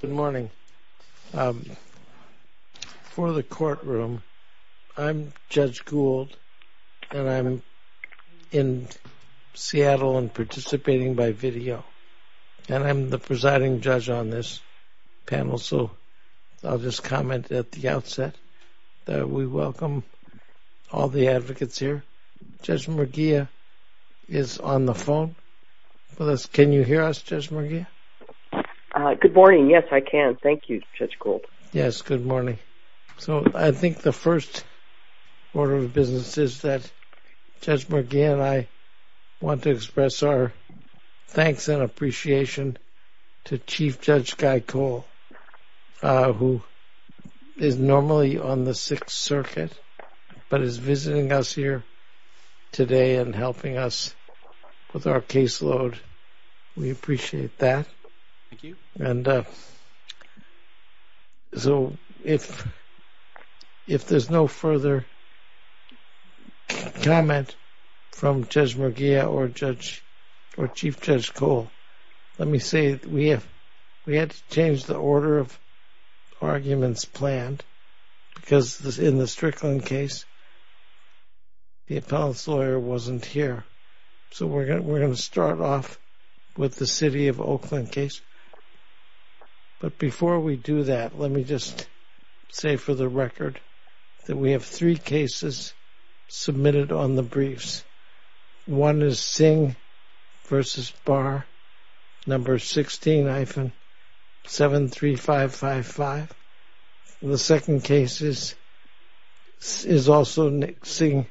Good morning. For the courtroom, I'm Judge Gould, and I'm in Seattle and participating by video, and I'm the presiding judge on this panel, so I'll just comment at the outset that we welcome all the advocates here. Judge Murguia is on the phone with us. Can you hear us, Judge Murguia? Good morning. Yes, I can. Thank you, Judge Gould. Yes, good morning. So I think the first order of business is that Judge Murguia and I want to express our thanks and appreciation to Chief Judge Guy Cole, who is normally on the panel. So if there's no further comment from Judge Murguia or Chief Judge Cole, let me say we had to change the order of arguments planned, because in the Strickland case, the appellant's lawyer wasn't here. So we're going to start off with the City of Oakland case. But before we do that, let me just say for the record that we have three cases submitted on briefs. One is Singh v. Barr, No. 16-73555. The second case is also Singh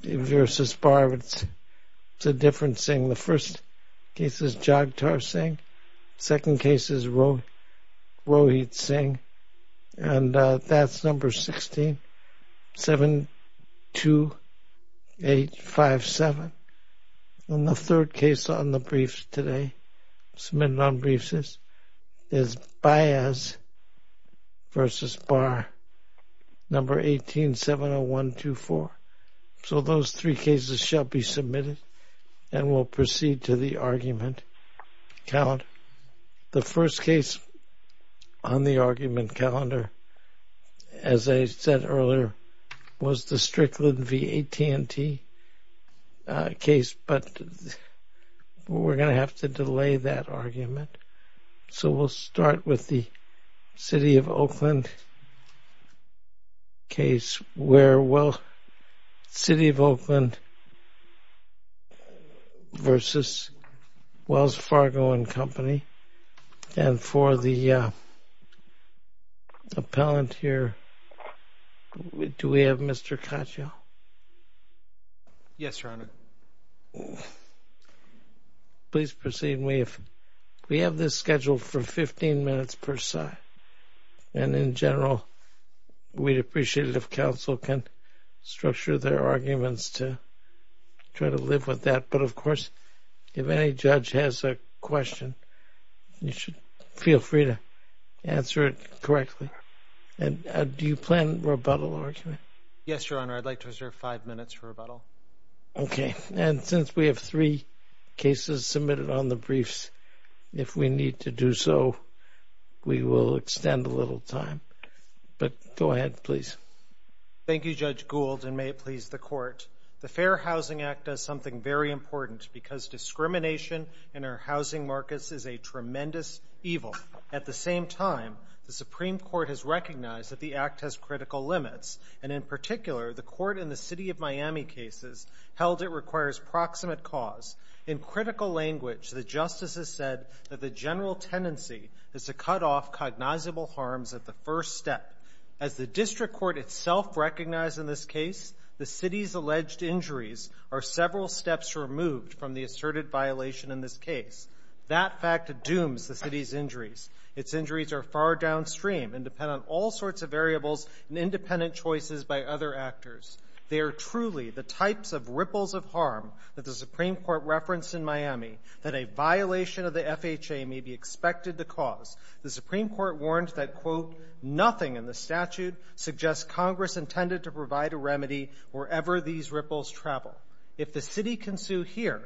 v. Barr, but it's a different Singh. The first case is Jagtar Singh. The second case is Rohit Singh, and that's No. 16-72857. And the third case on the briefs today, submitted on briefs, is Baez v. Barr, No. 18-70124. So those three cases shall be submitted, and we'll proceed to the argument. The first case on the argument calendar, as I said earlier, was the Strickland v. AT&T case, but we're going to have to delay that argument. So we'll start with the City of Oakland case, where City of Oakland v. Wells Fargo & Company. And for the appellant here, do we have Mr. Caccio? Yes, Your Honor. Well, please proceed. We have this scheduled for 15 minutes per side. And in general, we'd appreciate it if counsel can structure their arguments to try to live with that. But of course, if any judge has a question, you should feel free to answer it correctly. And do you plan rebuttal argument? Yes, Your Honor. I'd like to reserve five minutes for rebuttal. Okay. And since we have three cases submitted on the briefs, if we need to do so, we will extend a little time. But go ahead, please. Thank you, Judge Gould, and may it please the Court. The Fair Housing Act does something very important because discrimination in our housing markets is a tremendous evil. At the same time, the Supreme Court has recognized that the Act has critical limits. And in particular, the Court in the City of Miami cases held it requires proximate cause. In critical language, the justices said that the general tendency is to cut off cognizable harms at the first step. As the District Court itself recognized in this case, the City's alleged injuries are several steps removed from the asserted violation in this case. That fact dooms the City's injuries. Its injuries are far downstream and depend on all sorts of variables and independent choices by other actors. They are truly the types of ripples of harm that the Supreme Court referenced in Miami that a violation of the FHA may be expected to cause. The Supreme Court warned that, quote, nothing in the statute suggests Congress intended to provide a remedy wherever these ripples travel. If the City can sue here,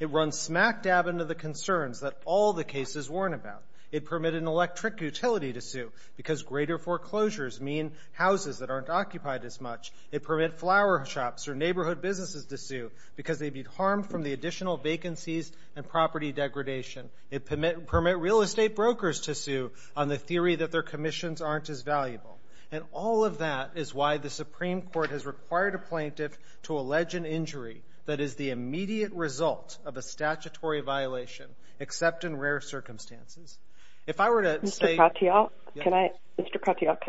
it runs smack dab into the concerns that all the cases warn about. It permitted an electric utility to sue because greater foreclosures mean houses that aren't occupied as much. It permit flower shops or neighborhood businesses to sue because they'd be harmed from the additional vacancies and property degradation. It permit permit real estate brokers to sue on the theory that their commissions aren't as valuable. And all of that is why the Supreme Court has required a plaintiff to allege an injury that is the immediate result of a statutory violation, except in rare circumstances. If I were to say... Mr. Katyal, can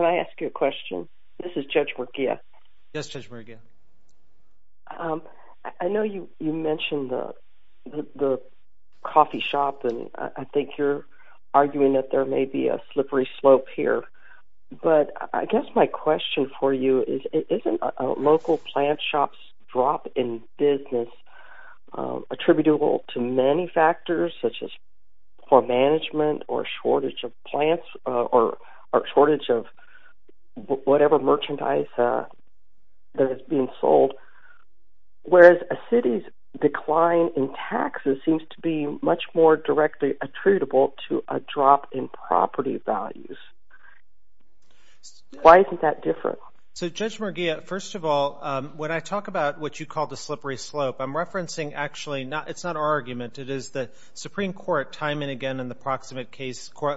I ask you a question? This is Judge Merguez. Yes, Judge Merguez. I know you mentioned the coffee shop and I think you're arguing that there may be a slippery slope here, but I guess my question for you is, isn't a local plant shop's drop in business attributable to many factors such as poor management or shortage of plants or shortage of whatever merchandise that is being sold, whereas a City's decline in taxes seems to be much more directly attributable to a drop in property values? Why isn't that different? So Judge Merguez, first of all, when I talk about what you call the slippery slope, actually it's not our argument. It is the Supreme Court, time and again in the proximate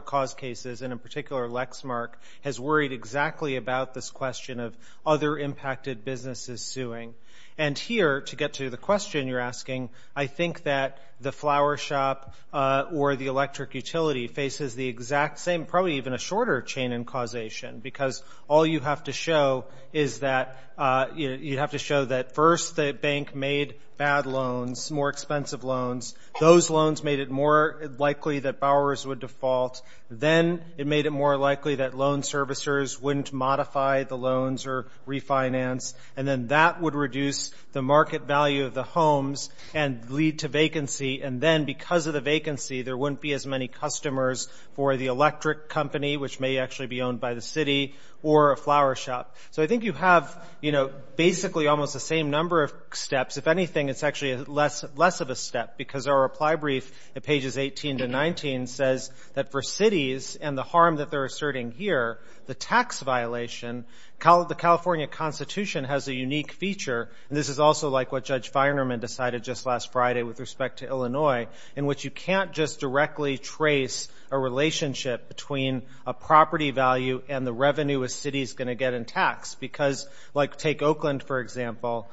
cause cases, and in particular Lexmark, has worried exactly about this question of other impacted businesses suing. And here, to get to the question you're asking, I think that the flower shop or the electric utility faces the exact same, probably even a shorter chain in causation, because all you have to show is that first the bank made bad loans, more expensive loans. Those loans made it more likely that bowers would default. Then it made it more likely that loan servicers wouldn't modify the loans or refinance, and then that would reduce the market value of the homes and lead to vacancy. And then, because of the vacancy, there wouldn't be as many or a flower shop. So I think you have basically almost the same number of steps. If anything, it's actually less of a step, because our reply brief at pages 18 to 19 says that for cities and the harm that they're asserting here, the tax violation, the California Constitution has a unique feature, and this is also like what Judge Feinerman decided just last Friday with respect to Illinois, in which you can't just directly trace a relationship between a property value and the revenue a city is going to get in tax. Because, like take Oakland, for example,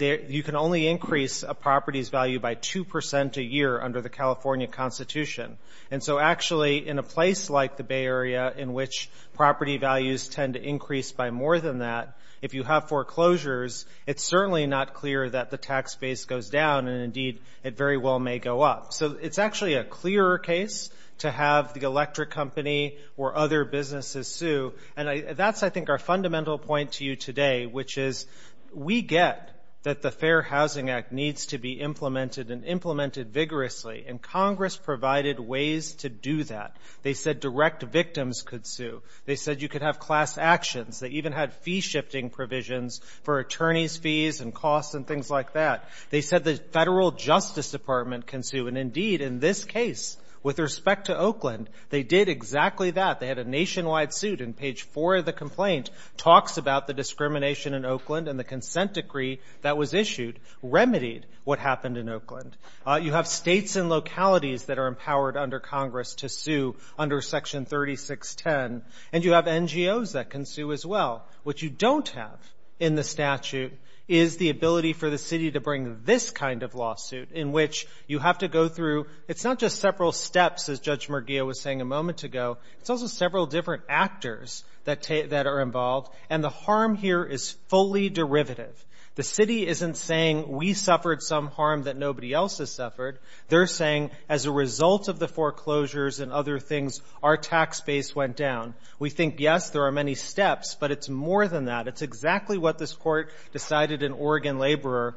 you can only increase a property's value by 2% a year under the California Constitution. And so actually, in a place like the Bay Area, in which property values tend to increase by more than that, if you have foreclosures, it's certainly not clear that the tax base goes down, and indeed it very well may go up. So it's actually a clearer case to have the electric company or other businesses sue, and that's I think our fundamental point to you today, which is we get that the Fair Housing Act needs to be implemented and implemented vigorously, and Congress provided ways to do that. They said direct victims could sue. They said you could have class actions. They even had fee-shifting provisions for attorneys' fees and costs and things like that. They said the Federal Justice Department can sue, and indeed in this case, with respect to Oakland, they did exactly that. They had a nationwide suit, and page 4 of the complaint talks about the discrimination in Oakland, and the consent decree that was issued remedied what happened in Oakland. You have states and localities that are empowered under Congress to sue under Section 3610, and you have NGOs that can sue as well. What you don't have in the statute is the ability for the city to bring this kind of lawsuit, in which you have to go through, it's not just several steps, as Judge Murguia was saying a several different actors that are involved, and the harm here is fully derivative. The city isn't saying we suffered some harm that nobody else has suffered. They're saying as a result of the foreclosures and other things, our tax base went down. We think, yes, there are many steps, but it's more than that. It's exactly what this Court decided in Oregon Laborer,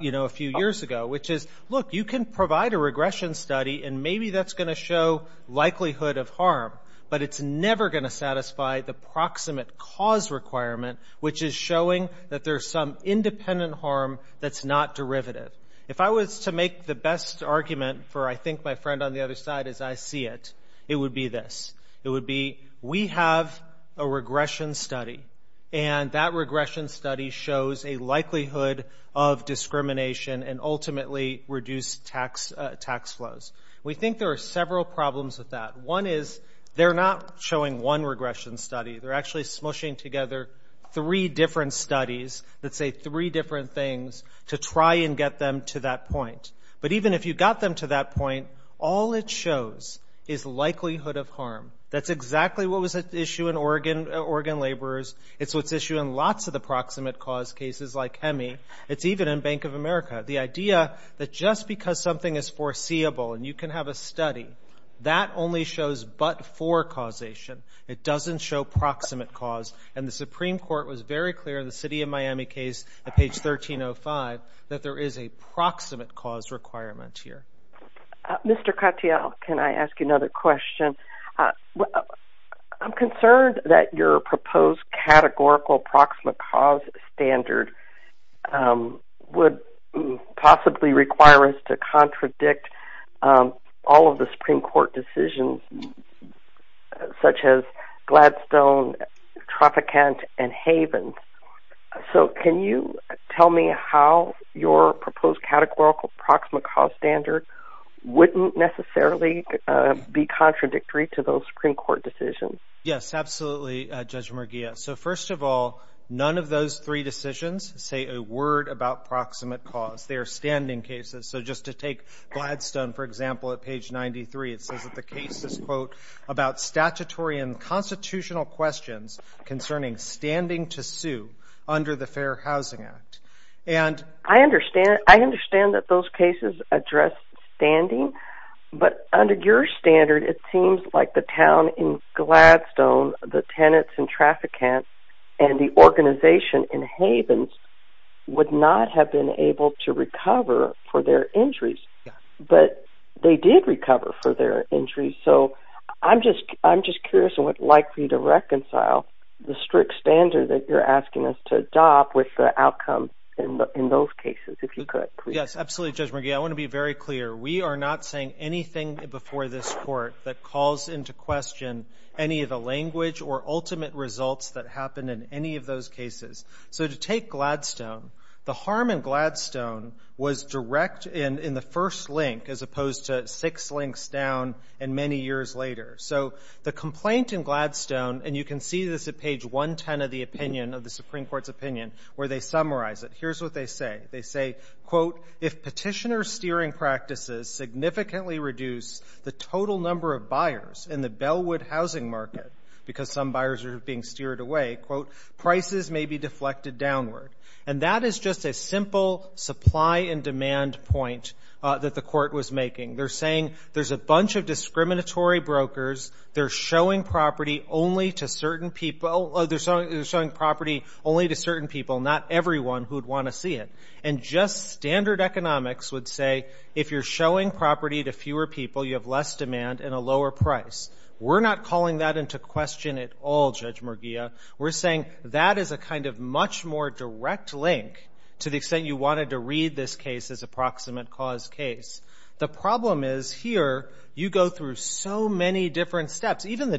you know, a few years ago, which is, look, you can provide a regression study, and maybe that's going to show likelihood of harm, but it's never going to satisfy the proximate cause requirement, which is showing that there's some independent harm that's not derivative. If I was to make the best argument for, I think, my friend on the other side, as I see it, it would be this. It would be, we have a regression study, and that regression study shows a likelihood of discrimination and ultimately reduced tax flows. We think there are several problems with that. One is they're not showing one regression study. They're actually smushing together three different studies that say three different things to try and get them to that point, but even if you got them to that point, all it shows is likelihood of harm. That's exactly what was at issue in Oregon Laborers. It's what's issue in lots of the proximate cause cases like HEMI. It's even in Bank of America. The idea that just because something is foreseeable and you can have a study, that only shows but-for causation. It doesn't show proximate cause, and the Supreme Court was very clear in the City of Miami case at page 1305 that there is a proximate cause requirement here. Mr. Katyal, can I ask you another question? I'm concerned that your proposed categorical proximate cause standard would possibly require us to contradict all of the Supreme Court decisions such as Gladstone, Tropicant, and Haven. Can you tell me how your proposed categorical proximate cause standard wouldn't necessarily be contradictory to those Supreme Court decisions? Yes, absolutely, Judge Murguia. First of all, none of those three decisions say a word about proximate cause. They are standing cases. Just to take Gladstone, for example, at page 93, it says that the case is, quote, about statutory and constitutional questions concerning standing to sue under the Fair Housing Act. I understand that those cases address standing, but under your standard, it seems like the town in Gladstone, the tenants in Tropicant, and the organization in Haven would not have been able to recover for their injuries, but they did recover for their injuries. So I'm just curious and would like for you to reconcile the strict standard that you're asking us to adopt with the outcome in those cases, if you could, please. Yes, absolutely, Judge Murguia. I want to be very clear. We are not saying anything before this Court that calls into question any of the language or ultimate results that happened in any of those cases. So to take Gladstone, the harm in Gladstone was direct in the first link as opposed to six links down and many years later. So the complaint in Gladstone, and you can see this at page 110 of the opinion, of the Supreme Court's opinion, where they summarize it, here's what they say. They say, quote, if petitioner steering practices significantly reduce the total number of buyers in the Bellwood housing market, because some buyers are being steered away, quote, prices may be deflected downward. And that is just a simple supply and demand point that the Court was making. They're saying there's a bunch of discriminatory brokers. They're showing property only to certain people. They're showing property only to certain people, not everyone who would want to see it. And just standard economics would say, if you're showing property to fewer people, you have less demand and a lower price. We're not calling that into question at all, Judge Murguia. We're saying that is a kind of much more direct link to the extent you wanted to read this case as a proximate cause case. The problem is, here, you go through so many different steps. Even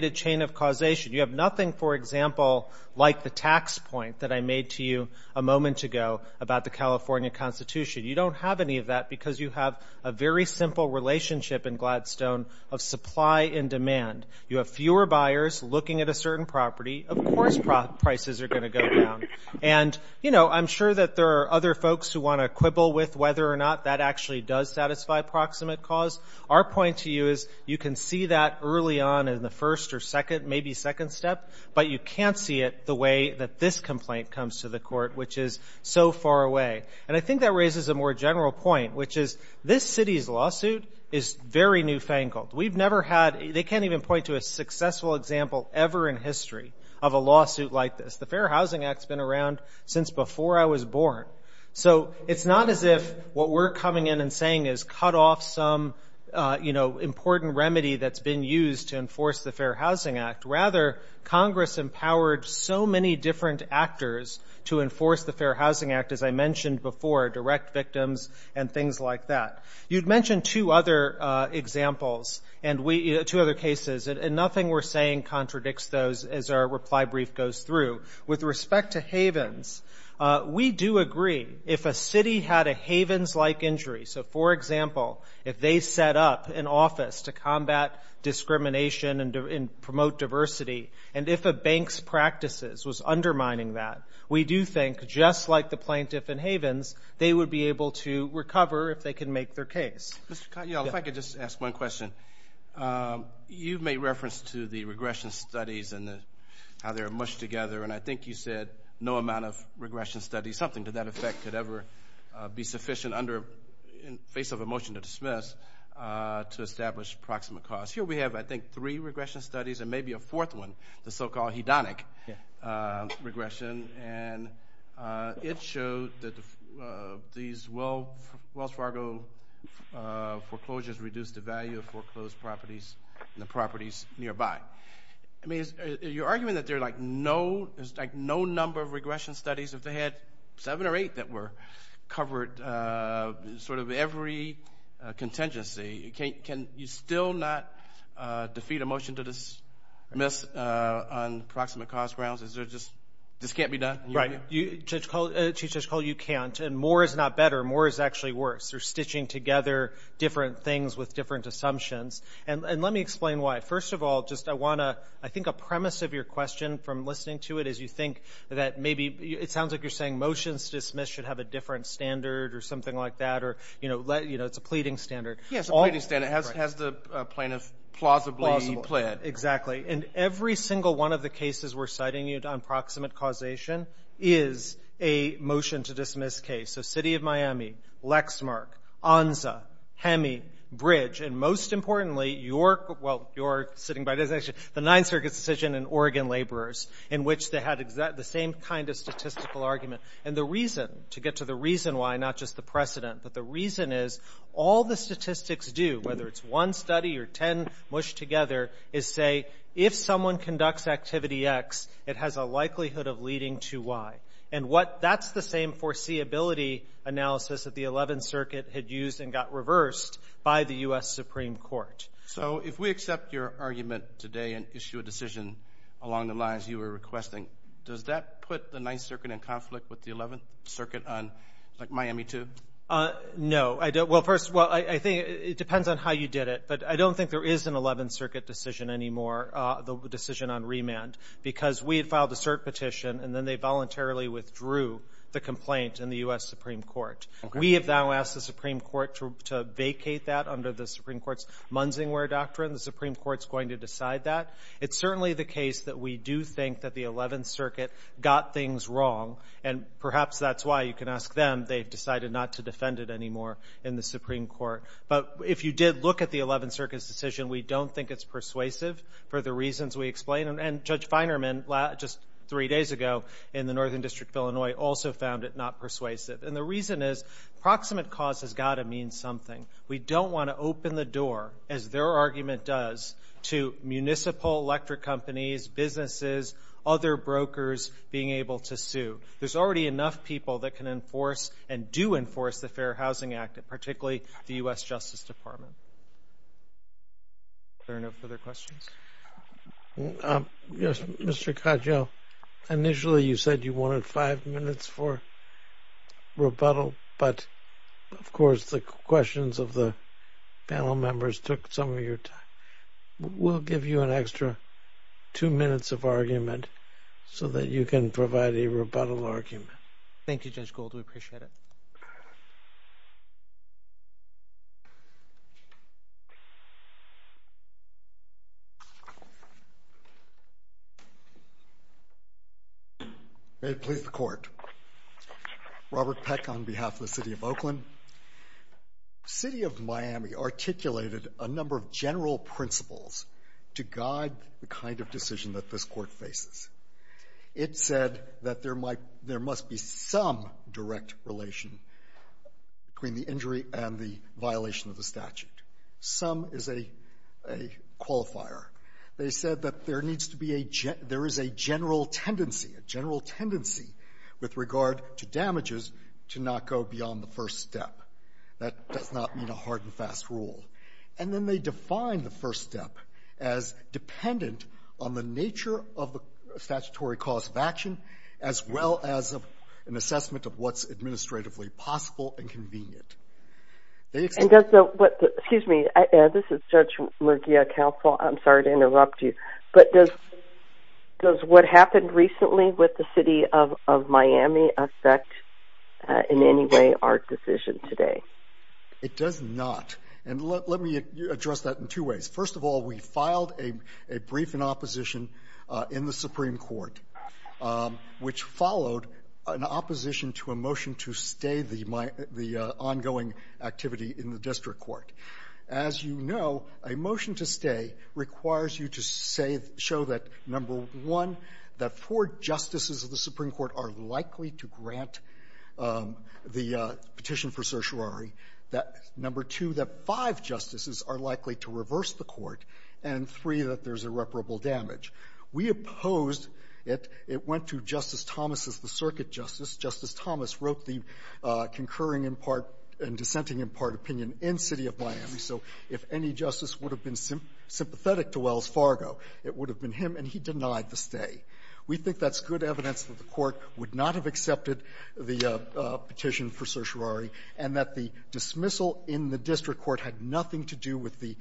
the causation. You have nothing, for example, like the tax point that I made to you a moment ago about the California Constitution. You don't have any of that because you have a very simple relationship in Gladstone of supply and demand. You have fewer buyers looking at a certain property. Of course prices are going to go down. And, you know, I'm sure that there are other folks who want to quibble with whether or not that actually does satisfy proximate cause. Our point to you is you can see that early on in the first or second, maybe second step, but you can't see it the way that this complaint comes to the court, which is so far away. And I think that raises a more general point, which is this city's lawsuit is very newfangled. We've never had, they can't even point to a successful example ever in history of a lawsuit like this. The Fair Housing Act's been around since before I was born. So it's not as if what we're coming in and saying is cut off some, you know, important remedy that's been used to enforce the Fair Housing Act. Rather, Congress empowered so many different actors to enforce the Fair Housing Act, as I mentioned before, direct victims and things like that. You'd mentioned two other examples and we, two other cases, and nothing we're saying contradicts those as our reply brief goes through. With respect to Havens, we do agree if a city had a Havens-like injury, so for example, if they set up an office to combat discrimination and promote diversity, and if a bank's practices was undermining that, we do think, just like the plaintiff in Havens, they would be able to recover if they could make their case. Mr. Cotton, if I could just ask one question. You've made reference to the regression studies and how they're mushed together, and I think you said no amount of regression studies, something to that effect, could ever be sufficient under, in face of a motion to dismiss, to establish proximate cause. Here we have, I think, three regression studies and maybe a fourth one, the so-called hedonic regression, and it showed that these Wells Fargo foreclosures reduced the value of foreclosed properties and the properties nearby. I mean, you're arguing that there's like no number of regression studies, if they had seven or eight that were covered, sort of every contingency, can you still not defeat a motion to dismiss on proximate cause grounds? Is there just, this can't be done? Right. Chief Judge Cole, you can't, and more is not better, more is actually worse. They're stitching together different things with different assumptions, and let me explain why. First of all, just I want to, I think a premise of your question from listening to it is you think that maybe, it sounds like you're saying motions dismissed should have a different standard or something like that, or, you know, it's a pleading standard. Yes, a pleading standard, has the plaintiff plausibly pled. Exactly, and every single one of the cases we're citing you on proximate causation is a motion to dismiss case, so City of Miami, Lexmark, Onza, Hemi, Bridge, and most importantly, York, well, York sitting by designation, the Ninth Circuit's decision in Oregon Laborers, in which they had the same kind of statistical argument, and the reason, to get to the reason why, not just the precedent, but the reason is, all the statistics do, whether it's one study or ten mushed together, is say, if someone conducts activity X, it has a likelihood of leading to Y, and what, that's the same foreseeability analysis that the Eleventh Circuit had used and got reversed by the U.S. Supreme Court. So, if we accept your argument today and issue a decision along the lines you were requesting, does that put the Ninth Circuit in conflict with the Eleventh Circuit on, like, Miami too? No, I don't, well, first, well, I think it depends on how you did it, but I don't think there is an Eleventh Circuit decision anymore, the decision on remand, because we had filed a cert petition, and then they voluntarily withdrew the complaint in the U.S. Supreme Court. We have now asked the Supreme Court to vacate that under the Supreme Court's It's certainly the case that we do think that the Eleventh Circuit got things wrong, and perhaps that's why, you can ask them, they've decided not to defend it anymore in the Supreme Court, but if you did look at the Eleventh Circuit's decision, we don't think it's persuasive for the reasons we explained, and Judge Feinerman, just three days ago, in the Northern District of Illinois, also found it not persuasive, and the reason is, proximate cause has got to mean something. We don't want to open the door, as their argument does, to municipal electric companies, businesses, other brokers being able to sue. There's already enough people that can enforce, and do enforce, the Fair Housing Act, particularly the U.S. Justice Department. Are there no further questions? Yes, Mr. Coggio, initially, you said you wanted five minutes for rebuttal, but, of course, the questions of the panel members took some of your time. We'll give you an extra two minutes of argument, so that you can provide a rebuttal argument. Thank you, Judge Gould, we appreciate it. May it please the Court. Robert Peck, on behalf of the City of Oakland. City of Miami articulated a number of general principles to guide the kind of decision that this Court faces. It said that there must be some direct relation between the injury and the statute. Some is a qualifier. They said that there is a general tendency with regard to damages to not go beyond the first step. That does not mean a hard and fast rule. And then they define the first step as dependent on the nature of the statutory cause of action, as well as an excuse me, this is Judge Murguia, Counsel. I'm sorry to interrupt you, but does what happened recently with the City of Miami affect in any way our decision today? It does not. And let me address that in two ways. First of all, we filed a brief in opposition in the Supreme Court, which followed an opposition to a motion to stay the ongoing activity in the district court. As you know, a motion to stay requires you to show that, number one, that four justices of the Supreme Court are likely to grant the petition for certiorari, that, number two, that five justices are likely to reverse the court, and, three, that there's irreparable damage. We opposed it. It went to Justice Thomas as the circuit justice. Justice Thomas wrote the concurring in part and dissenting in part opinion in City of Miami. So if any justice would have been sympathetic to Wells Fargo, it would have been him, and he denied the stay. We think that's good evidence that the Court would not have accepted the petition for certiorari and that the dismissal in the district court had nothing to do with the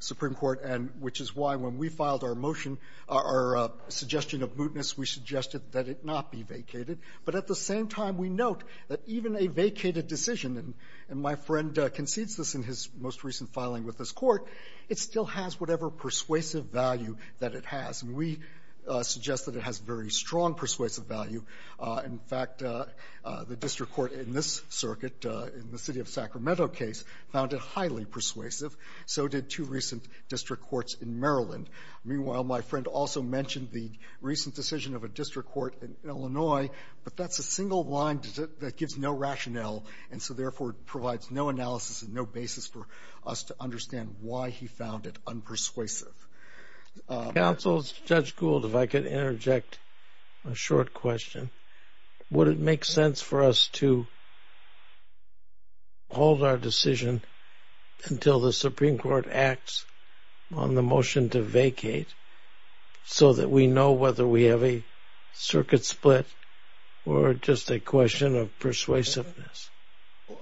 Supreme Court, and which is why when we filed our motion, our suggestion of mootness, we suggested that it not be vacated, but at the same time we note that even a vacated decision, and my friend concedes this in his most recent filing with this Court, it still has whatever persuasive value that it has, and we suggest that it has very strong persuasive value. In fact, the district court in this circuit, in the City of Sacramento case, found it highly persuasive. So did two recent district courts in Maryland. Meanwhile, my friend also mentioned the recent decision of a district court in Illinois, but that's a single line that gives no rationale, and so therefore it provides no analysis and no basis for us to understand why he found it unpersuasive. Counsel, Judge Gould, if I could interject a short question. Would it make sense for us to hold our decision until the Supreme Court acts on the motion to vacate, so that we know whether we have a circuit split or just a question of persuasiveness?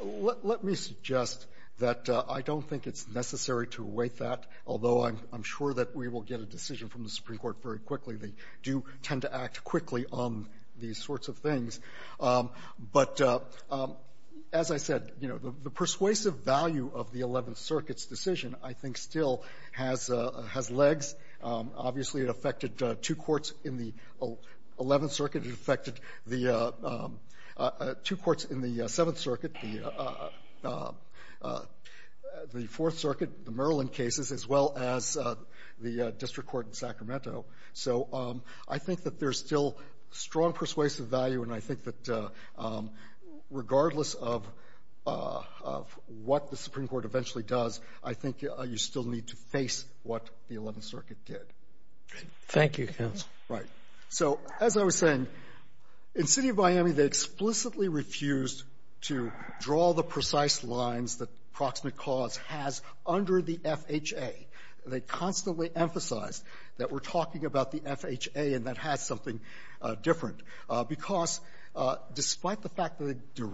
Let me suggest that I don't think it's necessary to await that, although I'm sure that we will get a decision from the Supreme Court very quickly. They do tend to act quickly on these things. But as I said, the persuasive value of the 11th Circuit's decision, I think, still has legs. Obviously, it affected two courts in the 11th Circuit. It affected two courts in the 7th Circuit, the 4th Circuit, the Maryland cases, as well as the district court in Sacramento. So I think that there's still strong persuasive value, and I think that regardless of what the Supreme Court eventually does, I think you still need to face what the 11th Circuit did. Thank you, counsel. Right. So as I was saying, in the City of Miami, they explicitly refused to draw the precise lines that proximate cause has under the FHA. They constantly emphasized that we're talking about the FHA and that has something different, because despite the fact that they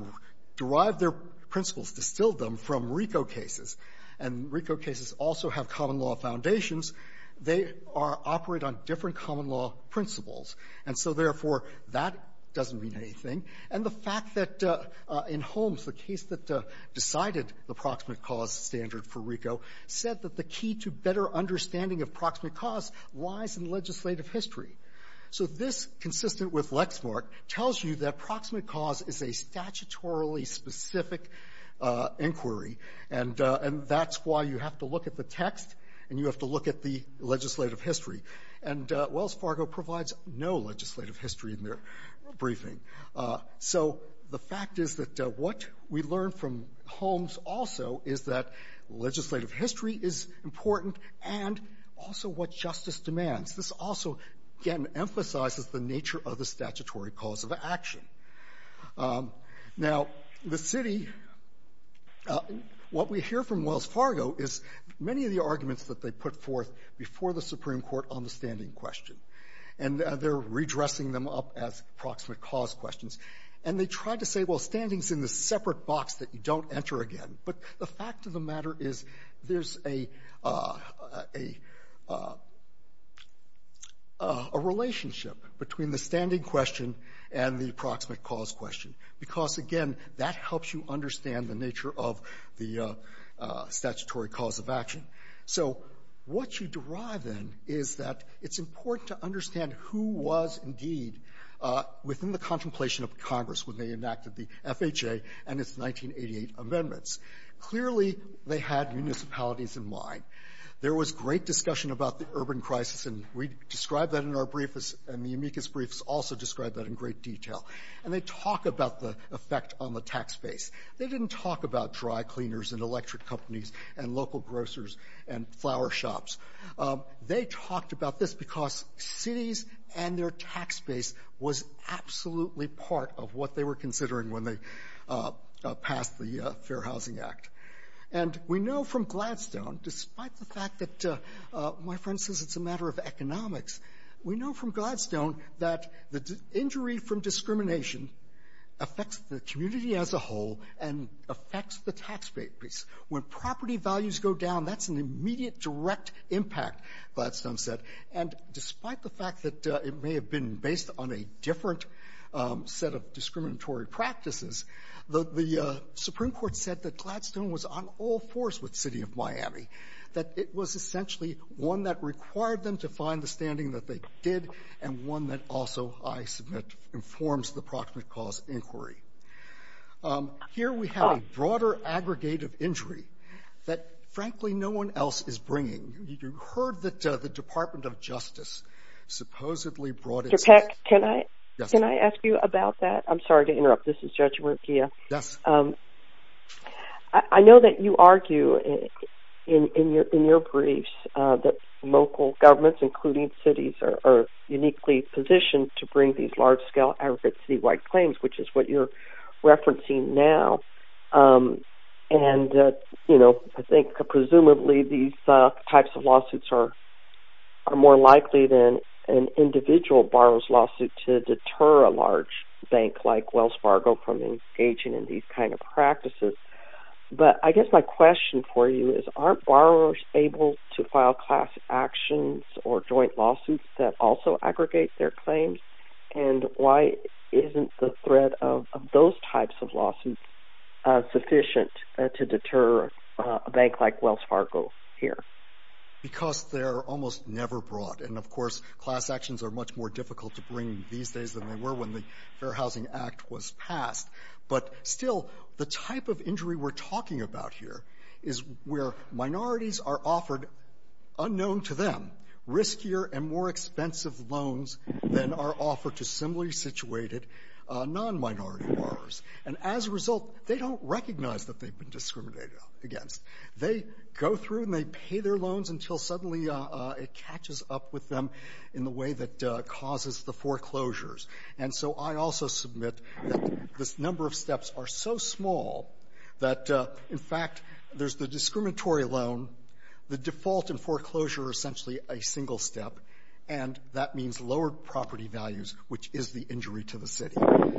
derived their principles, distilled them from RICO cases, and RICO cases also have common law foundations, they operate on different common law principles. And so, therefore, that doesn't mean anything. And the fact that in Holmes, the case that decided the proximate cause standard for RICO said that the key to better understanding of proximate cause lies in legislative history. So this, consistent with Lexmark, tells you that proximate cause is a statutorily specific inquiry, and that's why you have to look at the text and you have to look at the legislative history in their briefing. So the fact is that what we learned from Holmes also is that legislative history is important and also what justice demands. This also, again, emphasizes the nature of the statutory cause of action. Now, the city, what we hear from Wells Fargo is many of the arguments that they put forth before the Supreme Court on the standing question, and they're redressing them up as proximate cause questions. And they tried to say, well, standing's in this separate box that you don't enter again. But the fact of the matter is there's a relationship between the standing question and the proximate cause question, because, again, that helps you understand the nature of the statutory cause of action. So what you derive then is that it's important to understand who was indeed within the contemplation of Congress when they enacted the FHA and its 1988 amendments. Clearly, they had municipalities in mind. There was great discussion about the urban crisis, and we describe that in our brief, and the amicus briefs also describe that in great detail. And they talk about the effect on the tax base. They didn't talk about dry cleaners and electric companies and local grocers and flower shops. They talked about this because cities and their tax base was absolutely part of what they were considering when they passed the Fair Housing Act. And we know from Gladstone, despite the fact that my friend says it's a matter of economics, we know from Gladstone that the injury from When property values go down, that's an immediate direct impact, Gladstone said. And despite the fact that it may have been based on a different set of discriminatory practices, the Supreme Court said that Gladstone was on all fours with the city of Miami, that it was essentially one that required them to find the standing that they did, and one that also, I submit, informs the proximate cause inquiry. Here we have a broader aggregate of injury that, frankly, no one else is bringing. You heard that the Department of Justice supposedly brought it. Mr. Peck, can I ask you about that? I'm sorry to interrupt. This is Judge Murkia. Yes. I know that you argue in your briefs that local governments, including cities, are uniquely positioned to bring these large-scale aggregate city-wide claims, which is what you're referencing now. And I think, presumably, these types of lawsuits are more likely than an individual borrower's lawsuit to deter a large bank like Wells Fargo from engaging in these kinds of practices. But I guess my question for you is, aren't borrowers able to file class actions or joint lawsuits that also aggregate their claims? And why isn't the threat of those types of lawsuits sufficient to deter a bank like Wells Fargo here? Because they're almost never brought. And, of course, class actions are much more difficult to bring these days than they were when the Fair Housing Act was passed. But still, the type of injury we're talking about here is where minorities are offered, unknown to them, riskier and more expensive loans than are offered to similarly situated non-minority borrowers. And as a result, they don't recognize that they've been discriminated against. They go through and they pay their loans until suddenly it catches up with them in the way that causes the foreclosures. And so I also submit that this number of steps are so small that, in fact, there's the discriminatory loan, the default and foreclosure are essentially a single step, and that means lower property values, which is the injury to the city.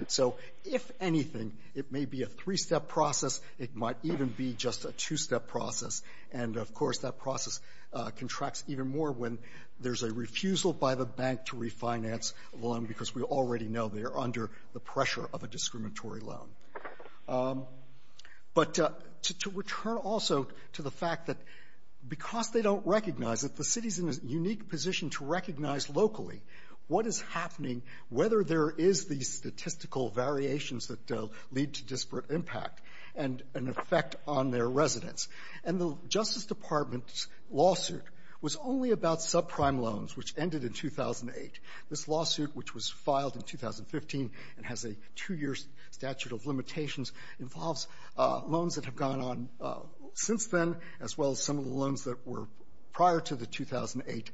So if anything, it may be a three-step process. It might even be just a two-step process. And, of course, that process contracts even more when there's a refusal by the bank to refinance a loan because we already know they're under the pressure of a discriminatory loan. But to return also to the fact that because they don't recognize it, the city's in a unique position to recognize locally what is happening, whether there is these statistical variations that lead to disparate impact and an effect on their residents. And the Justice Department's lawsuit was only about subprime loans, which ended in 2008. This lawsuit, which was filed in 2015 and has a two-year statute of limitations, involves loans that have gone on since then, as well as some of the loans that were prior to the 2008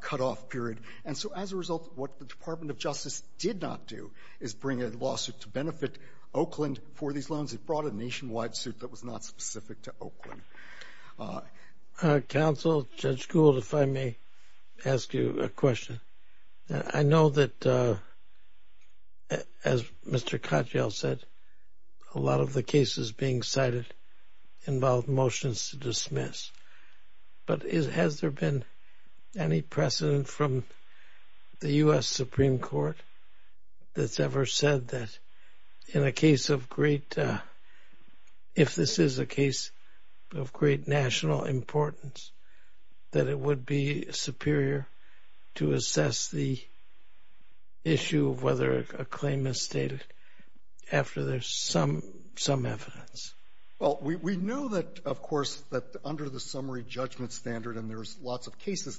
cutoff period. And so as a result, what the Department of Justice did not do is bring a lawsuit to benefit Oakland for these loans. It brought a nationwide suit that was not specific to Oakland. Well, Counsel, Judge Gould, if I may ask you a question. I know that, as Mr. Cottrell said, a lot of the cases being cited involve motions to dismiss. But has there been any precedent from the U.S. Supreme Court that's ever said that in a case of great, if this is a case of great national importance, that it would be superior to assess the issue of whether a claim is stated after there's some evidence? Well, we know that, of course, that under the summary judgment standard, and there's lots of it, it's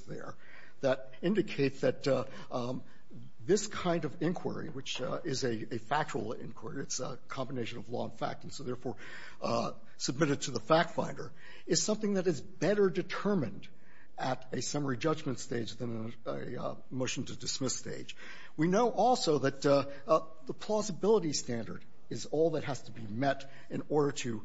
a combination of law and fact, and so therefore submitted to the fact finder, is something that is better determined at a summary judgment stage than a motion to dismiss stage. We know also that the plausibility standard is all that has to be met in order to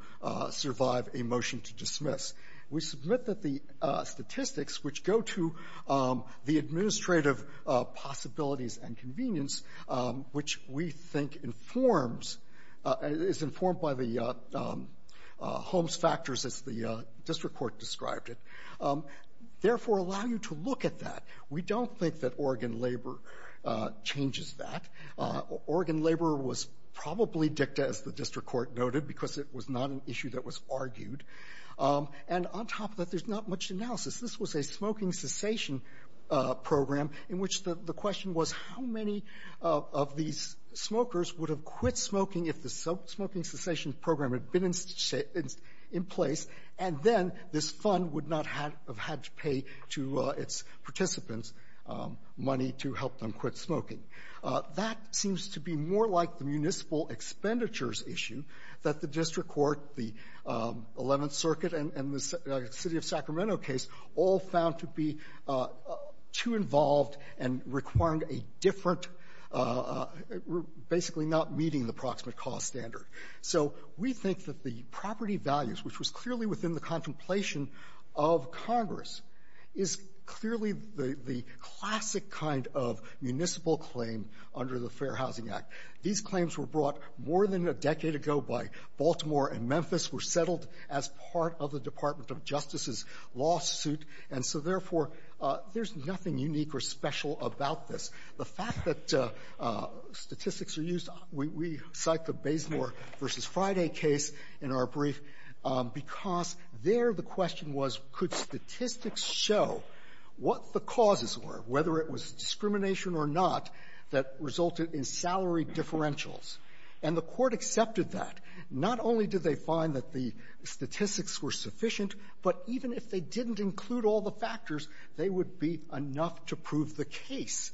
survive a motion to dismiss. We submit that the statistics which go to the administrative possibilities and convenience, which we think informs, is informed by the Holmes factors as the district court described it, therefore allow you to look at that. We don't think that Oregon labor changes that. Oregon labor was probably dicta, as the district court noted, because it was not an issue that was argued. And on top of that, there's not much analysis. This was a smoking cessation program in which the question was how many of these smokers would have quit smoking if the smoking cessation program had been in place, and then this fund would not have had to pay to its participants money to help them quit smoking. That seems to be more like the municipal expenditures issue that the district court, the 11th circuit, and the city of Sacramento case all found to be too involved and requiring a different, basically not meeting the approximate cost standard. So we think that the property values, which was clearly within the contemplation of Congress, is clearly the classic kind of municipal claim under the Fair Housing Act. These claims were brought more than a decade ago by Baltimore and Memphis, were settled as part of the Department of Justice's lawsuit. And so, therefore, there's nothing unique or special about this. The fact that statistics are used, we cite the Baysmore v. Friday case in our brief because there the question was, could statistics show what the causes were, whether it was discrimination or not, that resulted in salary differentials? And the Court accepted that. Not only did they find that the statistics were sufficient, but even if they didn't include all the factors, they would be enough to prove the case.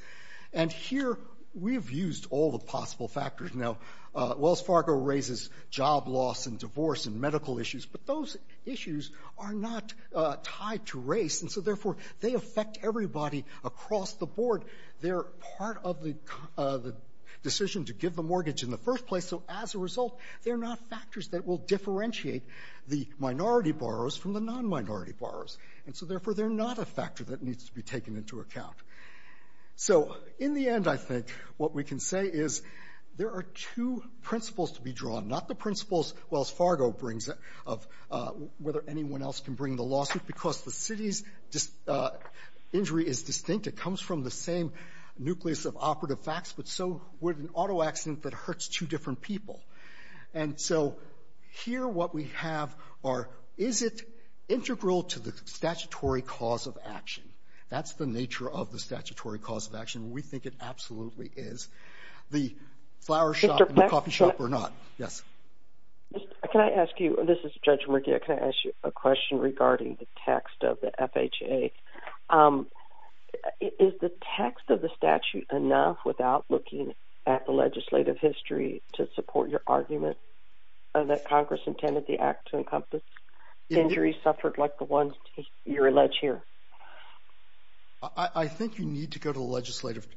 And here, we have used all the possible factors. Now, Wells Fargo raises job loss and divorce and medical issues, but those issues are not tied to race, and so, therefore, they affect everybody across the board. They're part of the decision to give the mortgage in the first place, so as a result, they're not factors that will differentiate the minority borrowers from the non-minority borrowers. And so, therefore, they're not a factor that needs to be taken into account. So in the end, I think what we can say is there are two principles to be drawn, not the principles Wells Fargo brings of whether anyone else can bring the lawsuit, because the city's injury is distinct. It comes from the same nucleus of operative facts, but so would an auto accident that hurts two different people. And so, here, what we have are, is it integral to the statutory cause of action? That's the nature of the statutory cause of action. We think it absolutely is. The flower shop and the coffee shop or not? Yes? MR. MERKIEWICZ This is Judge Merkiewicz. Can I ask you a question regarding the text of the FHA? Is the text of the statute enough without looking at the legislative history to support your argument that Congress intended the act to encompass injuries suffered like the ones you allege here? MR. BOUTROUS I think you need to go to the legislative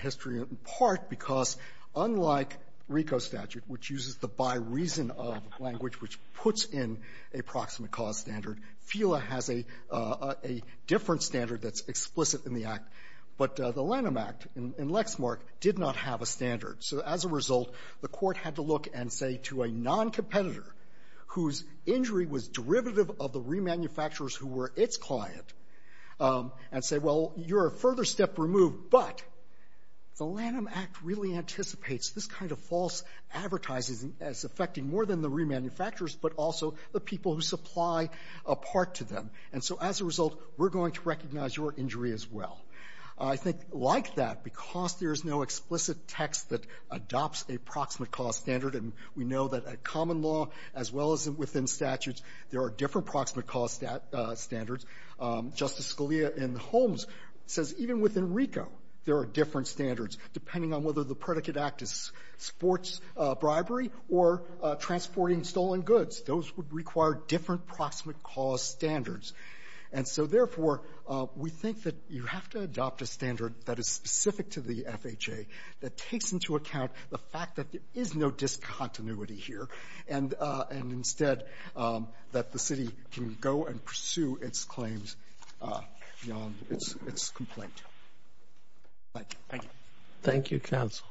history, in part, because unlike RICO statute, which uses the by reason of language, which puts in a proximate cause standard, FILA has a different standard that's explicit in the act. But the Lanham Act in Lexmark did not have a standard. So as a result, the Court had to look and say to a noncompetitor whose injury was derivative of the remanufacturers who were its client, and say, well, you're a further step removed. But the Lanham Act really anticipates this kind of false advertising as affecting more than the remanufacturers, but also the people who supply a part to them. And so as a result, we're going to recognize your injury as well. I think like that, because there is no explicit text that adopts a proximate cause standard, and we know that a common law, as well as within statutes, there are different proximate cause standards. Justice Scalia in Holmes says even within RICO, there are different standards, depending on whether the predicate act is sports bribery or transporting stolen goods. Those would require different proximate cause standards. And so therefore, we think that you have to adopt a standard that is specific to the FHA that takes into account the fact that there is no discontinuity here, and instead, that the city can go and pursue its claims beyond its complaint. Thank you. Thank you, counsel.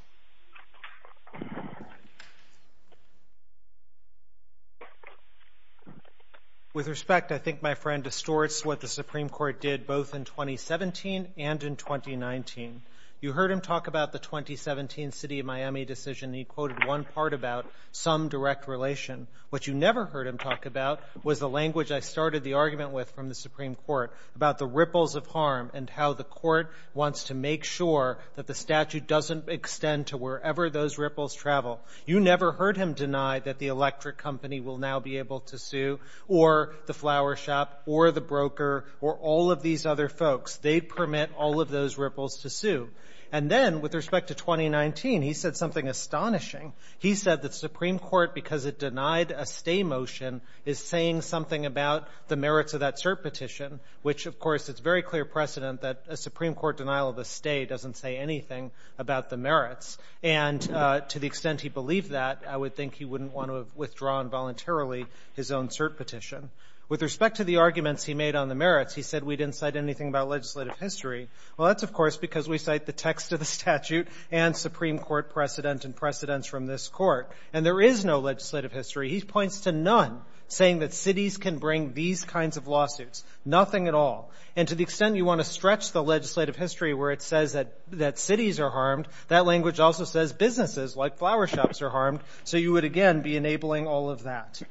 With respect, I think my friend distorts what the Supreme Court did both in 2017 and in 2019. You heard him talk about the 2017 City of Miami decision. He quoted one part about some direct relation. What you never heard him talk about was the language I started the argument with from the Supreme Court about the ripples of harm and how the court wants to make sure that the statute doesn't extend to wherever those ripples travel. You never heard him deny that the electric company will now be able to sue, or the flower shop, or the broker, or all of these other folks. They permit all of those ripples to sue. And then, with respect to 2019, he said something astonishing. He said the Supreme Court, because it denied a stay motion, is saying something about the merits of that cert petition, which, of course, it's very clear precedent that a Supreme Court denial of a stay doesn't say anything about the merits. And to the extent he believed that, I would think he wouldn't want to have withdrawn voluntarily his own cert petition. With respect to the arguments he made on the merits, he said we didn't cite anything about legislative history. Well, that's, of course, the text of the statute and Supreme Court precedent and precedents from this court. And there is no legislative history. He points to none saying that cities can bring these kinds of lawsuits. Nothing at all. And to the extent you want to stretch the legislative history where it says that cities are harmed, that language also says businesses, like flower shops, are harmed. So you would, again, be enabling all of that.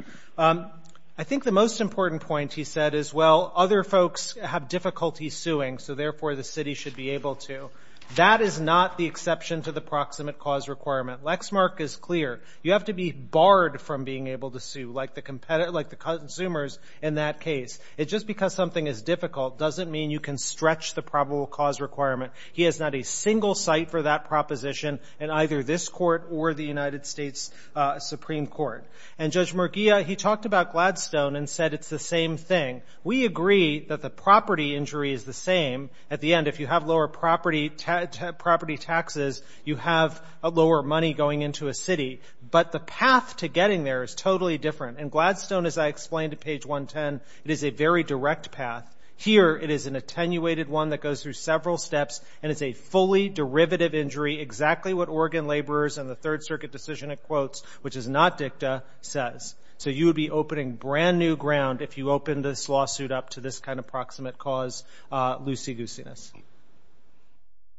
I think the most important point he said is, well, other folks have difficulty suing, so therefore the city should be able to. That is not the exception to the proximate cause requirement. Lexmark is clear. You have to be barred from being able to sue, like the consumers in that case. Just because something is difficult doesn't mean you can stretch the probable cause requirement. He has not a single cite for that proposition in either this court or the United States Supreme Court. And Judge Murguia, he talked about Gladstone and said it's the same thing. We agree that the property injury is the same. At the end, if you have lower property taxes, you have lower money going into a city. But the path to getting there is totally different. And Gladstone, as I explained at page 110, it is a very direct path. Here, it is an attenuated one that goes through several steps and is a fully derivative injury, exactly what Oregon laborers and the Third Circuit decision it quotes, which is not dicta, says. So you would be opening brand new ground if you opened this lawsuit up to this kind of proximate cause loosey-goosiness. Are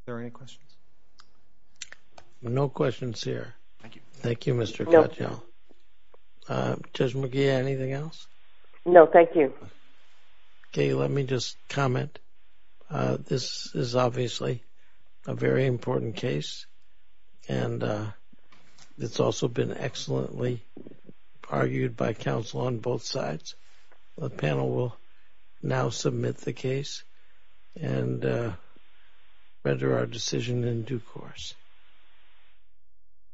there any questions? No questions here. Thank you, Mr. Cottrell. Judge Murguia, anything else? No, thank you. Okay, let me just comment. This is obviously a very important case, and it's also been excellently argued by counsel on both sides. The panel will now submit the case and render our decision in due course.